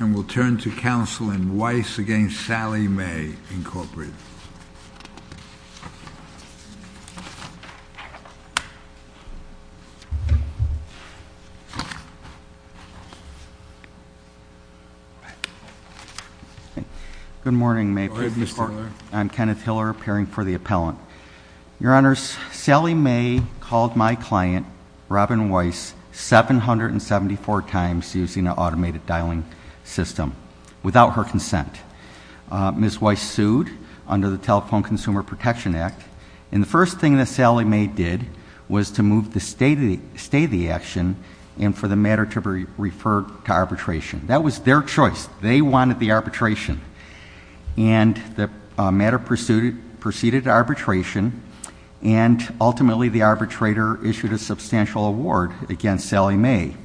Good morning, Mr. Mayor. I'm Kenneth Hiller, appearing for the Appellant. Your Honors, Sallie Mae called my client, Robin Weiss, 774 times using an automated dialing system without her consent. Ms. Weiss sued under the Telephone Consumer Protection Act, and the first thing that Sallie Mae did was to move the state of the action and for the matter to be referred to arbitration. That was their choice. They wanted the arbitration. And the matter proceeded to arbitration, and ultimately the arbitrator issued a substantial award against Sallie Mae.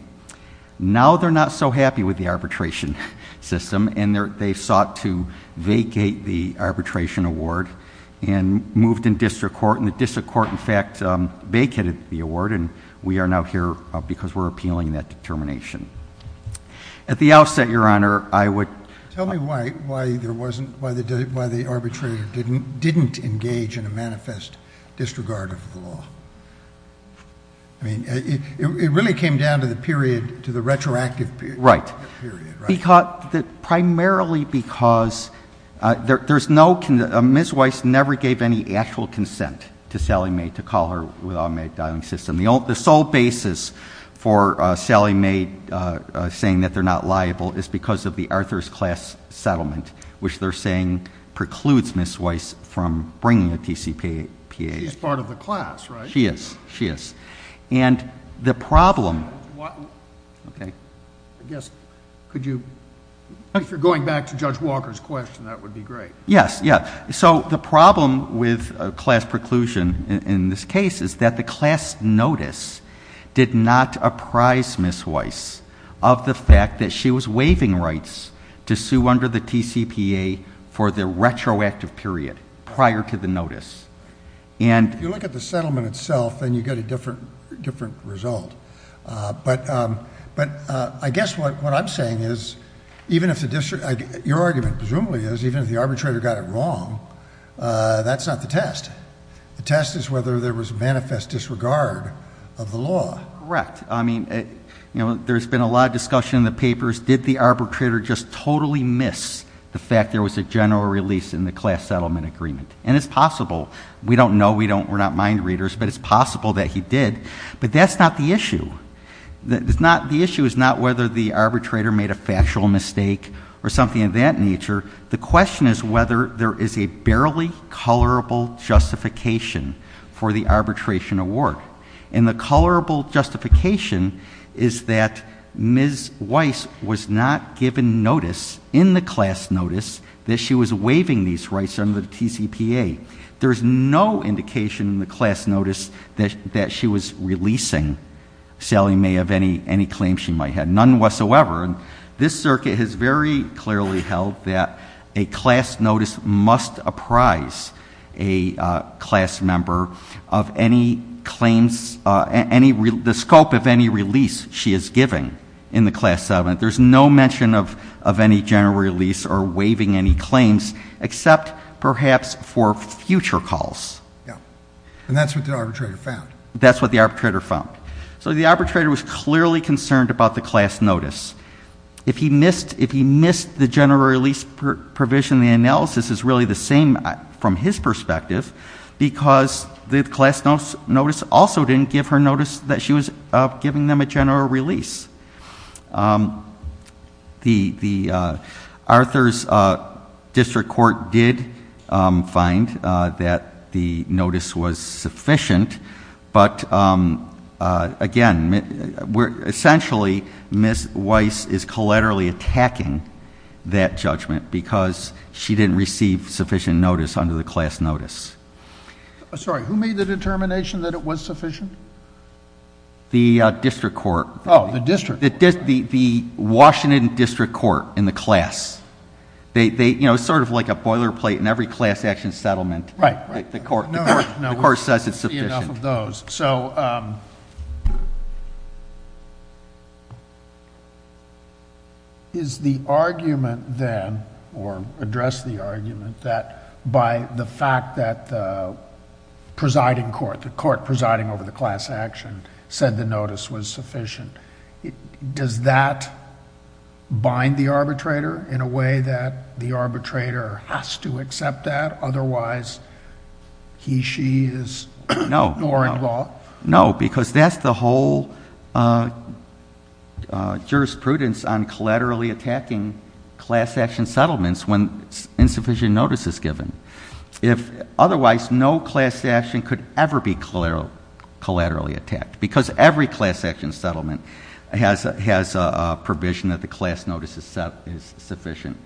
Now they're not so happy with the arbitration system, and they sought to vacate the arbitration award and moved in district court, and the district court in fact vacated the award, and we are now here because we're appealing that determination. At the outset, Your Honor, I would Tell me why the arbitrator didn't engage in a manifest disregard of the law. I mean, it really came down to the period, to the retroactive period. Right. Right. Primarily because there's no Ms. Weiss never gave any actual consent to Sallie Mae to call her with automated dialing system. The sole basis for Sallie Mae saying that they're not liable is because of the Arthur's class settlement, which they're saying precludes Ms. Weiss from bringing a TCPA. She's part of the class, right? She is. She is. And the problem I guess, could you, if you're going back to Judge Walker's question, that would be great. Yes. Yeah. So the problem with class preclusion in this case is that the class notice did not apprise Ms. Weiss of the fact that she was waiving rights to sue under the TCPA for the retroactive period prior to the notice. If you look at the settlement itself, then you get a different result. But I guess what the argument presumably is, even if the arbitrator got it wrong, that's not the test. The test is whether there was manifest disregard of the law. Correct. I mean, you know, there's been a lot of discussion in the papers. Did the arbitrator just totally miss the fact there was a general release in the class settlement agreement? And it's possible. We don't know. We don't, we're not mind readers, but it's possible that he did. But that's not the issue. It's not, the issue is not whether the arbitrator made a factual mistake or something of that nature. The question is whether there is a barely colorable justification for the arbitration award. And the colorable justification is that Ms. Weiss was not given notice in the class notice that she was waiving these rights under the TCPA. There's no indication in the class notice that she was releasing Sally May of any, any claims she might have, none whatsoever. And this circuit has very clearly held that a class notice must apprise a class member of any claims, any, the scope of any release she is giving in the class settlement. There's no mention of, of any general release or waiving any claims except perhaps for future calls. Yeah. And that's what the arbitrator found. That's what the arbitrator found. So the arbitrator was clearly concerned about the class notice. If he missed, if he missed the general release provision, the analysis is really the same from his perspective because the class notice also didn't give her notice that she was giving them a general release. The, the Arthur's District Court did find that the notice was sufficient, but again, we're essentially, Ms. Weiss is collaterally attacking that judgment because she didn't receive sufficient notice under the class notice. Sorry, who made the determination that it was sufficient? The District Court. Oh, the District. The, the, the Washington District Court in the class. They, they, you know, sort of like a boilerplate in every class action settlement. Right, right. The court, the court, the court says it's sufficient. No, no, we've seen enough of those. So, um, is the argument then, or address the argument that by the fact that the presiding court, the court presiding over the class action said the notice was sufficient, does that bind the arbitrator in a way that the arbitrator has to accept that? Otherwise, he, she is more involved? No, no, no, because that's the whole, uh, uh, jurisprudence on collaterally attacking class action settlements when insufficient notice is given. If otherwise, no class action could ever be collateral, collaterally attacked because every class action settlement has, has a provision that the class notice is sufficient.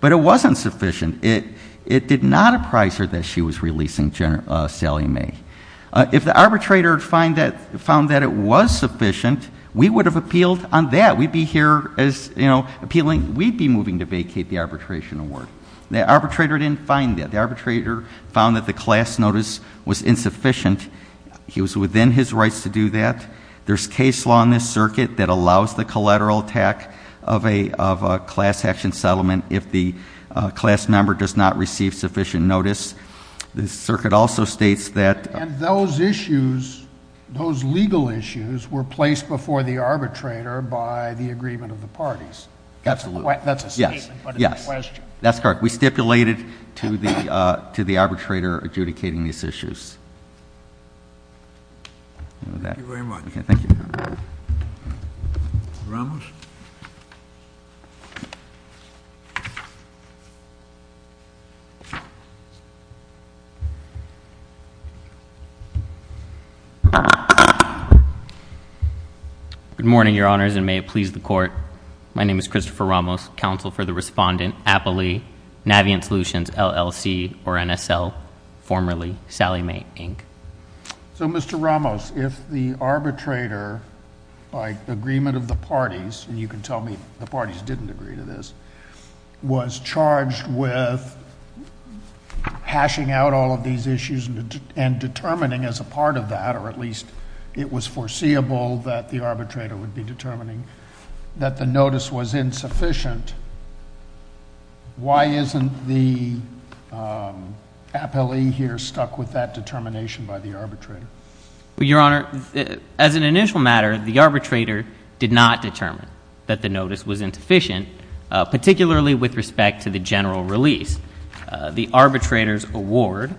But it wasn't sufficient. It, it did not apprise her that she was releasing Sally May. If the arbitrator found that it was sufficient, we would have appealed on that. We'd be here as, you know, appealing, we'd be moving to vacate the arbitration award. The arbitrator didn't find that. The arbitrator found that the class notice was insufficient. He was within his rights to do that. There's case law in this circuit that allows the collateral attack of a, of a class action settlement if the, uh, class member does not receive sufficient notice. The circuit also states that. And those issues, those legal issues were placed before the arbitrator by the agreement of the parties. Absolutely. That's a statement, but it's a question. That's correct. We stipulated to the, uh, to the arbitrator adjudicating these issues. Thank you very much. Okay. Thank you. Ramos. Good morning, your honors, and may it please the court. My name is Christopher Ramos, counsel for the respondent, Appley Navient Solutions LLC, or NSL, formerly Salimate Inc. So, Mr. Ramos, if the arbitrator, by agreement of the parties, and you can tell me the parties didn't agree to this, was charged with hashing out all of these issues and determining as a part of that, or at least it was foreseeable that the arbitrator would be determining that the notice was insufficient, why isn't the appellee here stuck with that determination by the arbitrator? Your honor, as an initial matter, the arbitrator did not determine that the notice was insufficient, particularly with respect to the general release. The arbitrator's award,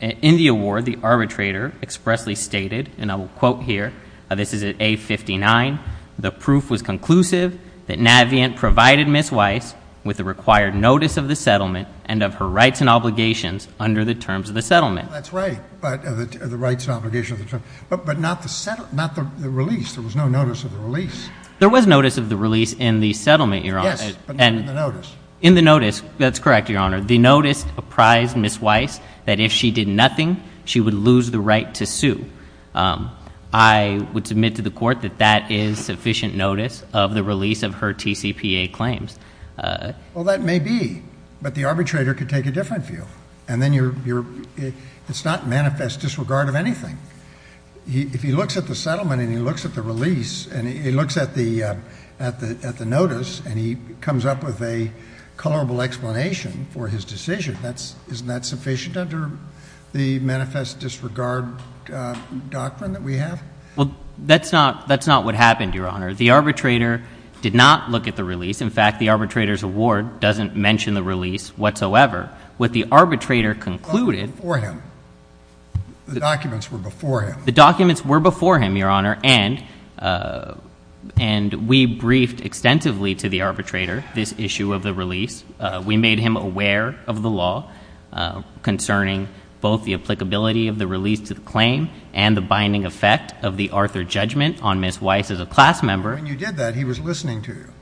in the award the arbitrator expressly stated, and I will quote here, this is at A59, the proof was conclusive that Navient provided Ms. Weiss with the required notice of the settlement and of her rights and obligations under the terms of the settlement. That's right, the rights and obligations, but not the release. There was no notice of the release. There was notice of the release in the settlement, your honor. Yes, but not in the notice. In the notice, that's correct, your honor. The notice apprised Ms. Weiss that if she did nothing, she would lose the right to sue. I would submit to the court that that is sufficient notice of the release of her TCPA claims. Well, that may be, but the arbitrator could take a different view. And then it's not manifest disregard of anything. If he looks at the settlement and he looks at the release and he looks at the notice and he comes up with a colorable explanation for his decision, isn't that sufficient under the manifest disregard doctrine that we have? Well, that's not what happened, your honor. The arbitrator did not look at the release. In fact, the arbitrator's award doesn't mention the release whatsoever. What the arbitrator concluded... Before him. The documents were before him. The documents were before him, your honor, and we briefed extensively to the arbitrator this issue of the release. We made him aware of the law concerning both the applicability of the release to the claim and the binding effect of the Arthur judgment on Ms. Weiss as a class member. When you did that, he was listening to you.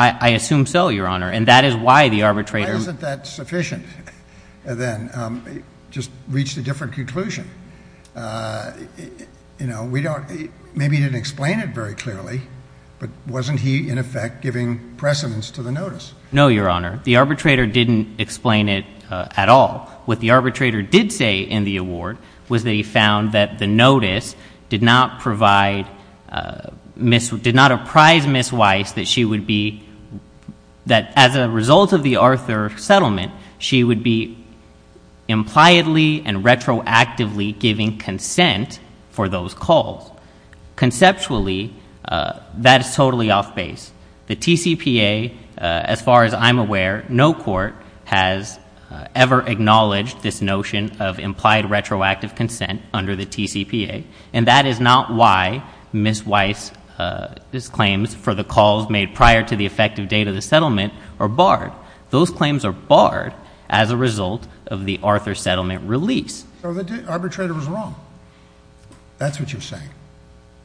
I assume so, your honor, and that is why the arbitrator... Why isn't that sufficient then? Just reach a different conclusion. You know, we don't... Maybe he didn't explain it very clearly, but wasn't he, in effect, giving precedence to the notice? No, your honor. The arbitrator didn't explain it at all. What the arbitrator did say in the award was that he found that the notice did not provide... did not apprise Ms. Weiss that she would be... for those calls. Conceptually, that is totally off base. The TCPA, as far as I'm aware, no court has ever acknowledged this notion of implied retroactive consent under the TCPA, and that is not why Ms. Weiss's claims for the calls made prior to the effective date of the settlement are barred. Those claims are barred as a result of the Arthur settlement release. So the arbitrator was wrong. That's what you're saying.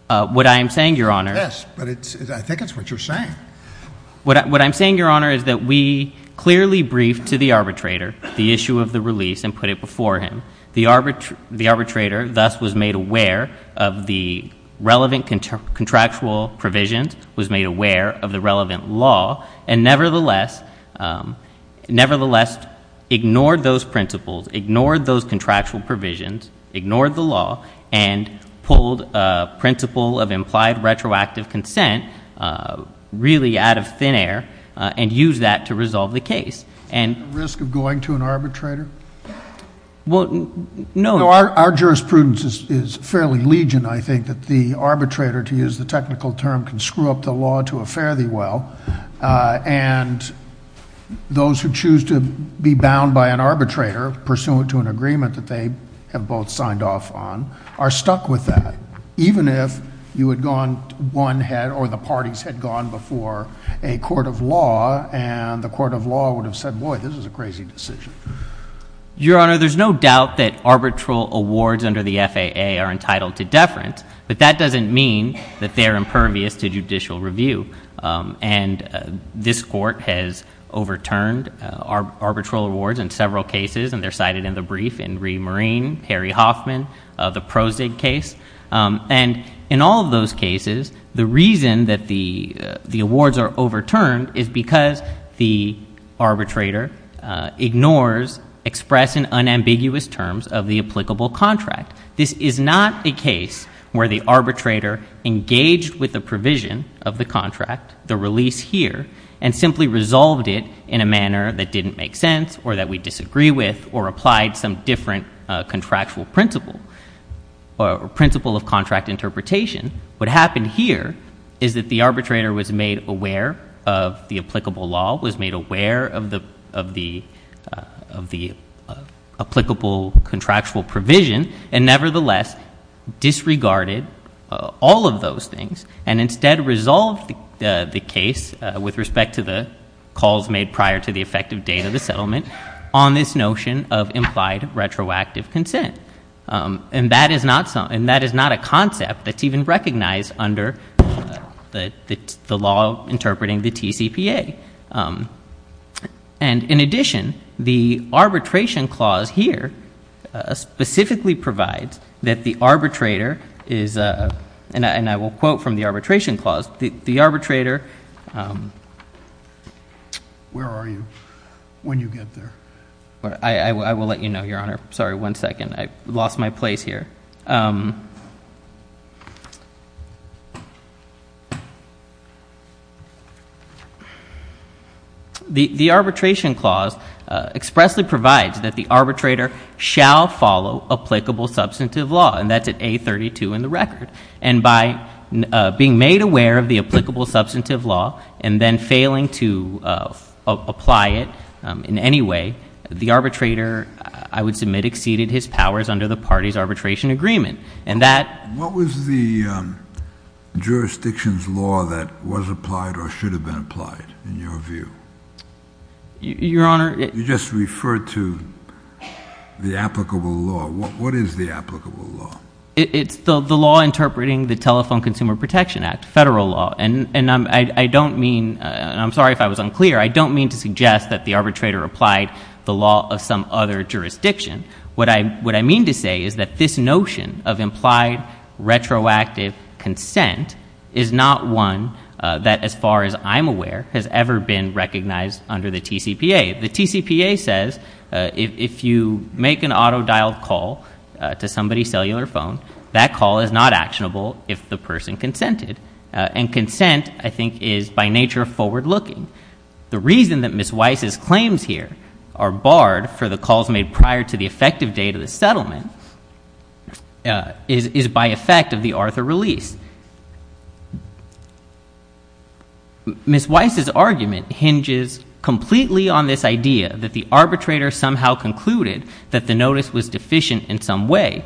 What I am saying, your honor... Yes, but I think it's what you're saying. What I'm saying, your honor, is that we clearly briefed to the arbitrator the issue of the release and put it before him. The arbitrator thus was made aware of the relevant contractual provisions, was made aware of the relevant law, and nevertheless ignored those principles, ignored those contractual provisions, ignored the law, and pulled a principle of implied retroactive consent really out of thin air and used that to resolve the case. Is there a risk of going to an arbitrator? Well, no. Our jurisprudence is fairly legion, I think, that the arbitrator, to use the technical term, can screw up the law to a fairly well, and those who choose to be bound by an arbitrator, pursuant to an agreement that they have both signed off on, are stuck with that, even if you had gone one head or the parties had gone before a court of law and the court of law would have said, boy, this is a crazy decision. Your honor, there's no doubt that arbitral awards under the FAA are entitled to deference, but that doesn't mean that they're impervious to judicial review. And this court has overturned arbitral awards in several cases, and they're cited in the brief in Reeve Marine, Harry Hoffman, the Prozig case. And in all of those cases, the reason that the awards are overturned is because the arbitrator ignores express and unambiguous terms of the applicable contract. This is not a case where the arbitrator engaged with the provision of the contract, the release here, and simply resolved it in a manner that didn't make sense or that we disagree with or applied some different contractual principle or principle of contract interpretation. What happened here is that the arbitrator was made aware of the applicable law, was made aware of the applicable contractual provision, and nevertheless disregarded all of those things and instead resolved the case with respect to the calls made prior to the effective date of the settlement on this notion of implied retroactive consent. And that is not a concept that's even recognized under the law interpreting the TCPA. And in addition, the arbitration clause here specifically provides that the arbitrator is, and I will quote from the arbitration clause, the arbitrator... Where are you when you get there? I will let you know, Your Honor. Sorry, one second. I lost my place here. The arbitration clause expressly provides that the arbitrator shall follow applicable substantive law, and that's at A32 in the record. And by being made aware of the applicable substantive law and then failing to apply it in any way, the arbitrator, I would submit, exceeded his powers under the party's arbitration agreement. What was the jurisdiction's law that was applied or should have been applied, in your view? Your Honor... You just referred to the applicable law. What is the applicable law? It's the law interpreting the Telephone Consumer Protection Act, federal law. And I don't mean, and I'm sorry if I was unclear, I don't mean to suggest that the arbitrator applied the law of some other jurisdiction. What I mean to say is that this notion of implied retroactive consent is not one that, as far as I'm aware, has ever been recognized under the TCPA. The TCPA says if you make an auto-dialed call to somebody's cellular phone, that call is not actionable if the person consented. And consent, I think, is by nature forward-looking. The reason that Ms. Weiss's claims here are barred for the calls made prior to the effective date of the settlement is by effect of the Arthur release. Ms. Weiss's argument hinges completely on this idea that the arbitrator somehow concluded that the notice was deficient in some way.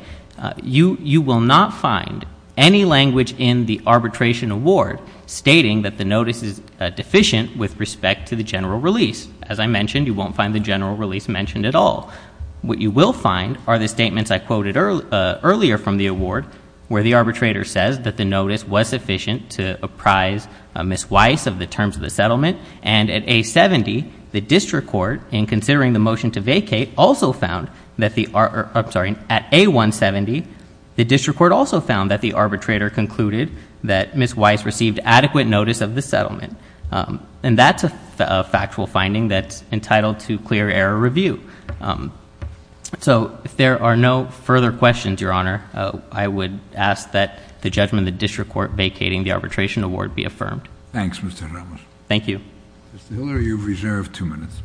You will not find any language in the arbitration award stating that the notice is deficient with respect to the general release. As I mentioned, you won't find the general release mentioned at all. What you will find are the statements I quoted earlier from the award where the arbitrator says that the notice was sufficient to apprise Ms. Weiss of the terms of the settlement. And at A-70, the district court, in considering the motion to vacate, also found that the, I'm sorry, at A-170, the district court also found that the arbitrator concluded that Ms. Weiss received adequate notice of the settlement. And that's a factual finding that's entitled to clear error review. So if there are no further questions, Your Honor, I would ask that the judgment of the district court vacating the arbitration award be affirmed. Thanks, Mr. Ramos. Thank you. Mr. Hiller, you've reserved two minutes.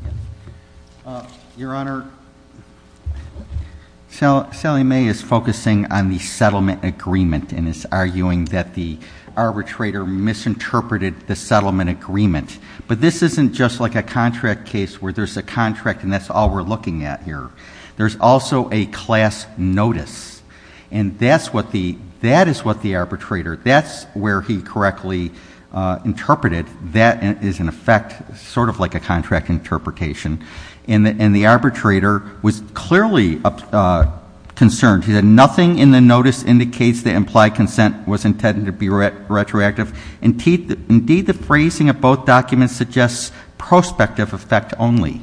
Your Honor, Sally May is focusing on the settlement agreement and is arguing that the arbitrator misinterpreted the settlement agreement. But this isn't just like a contract case where there's a contract and that's all we're looking at here. There's also a class notice. And that is what the arbitrator, that's where he correctly interpreted. That is, in effect, sort of like a contract interpretation. And the arbitrator was clearly concerned. He said nothing in the notice indicates the implied consent was intended to be retroactive. Indeed, the phrasing of both documents suggests prospective effect only.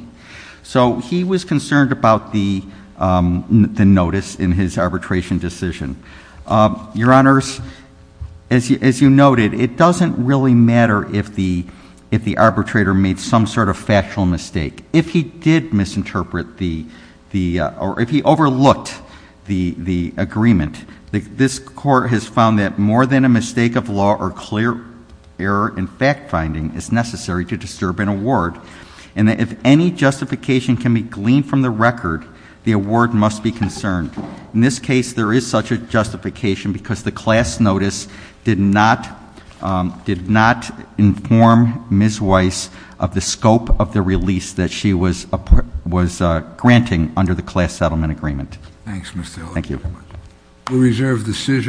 So he was concerned about the notice in his arbitration decision. Your Honors, as you noted, it doesn't really matter if the arbitrator made some sort of factual mistake. If he did misinterpret the, or if he overlooked the agreement, this court has found that more than a mistake of law or clear error in fact-finding is necessary to disturb an award. And that if any justification can be gleaned from the record, the award must be concerned. In this case, there is such a justification because the class notice did not inform Ms. Weiss of the scope of the release that she was granting under the class settlement agreement. Thanks, Mr. Hill. Thank you. We reserve decision.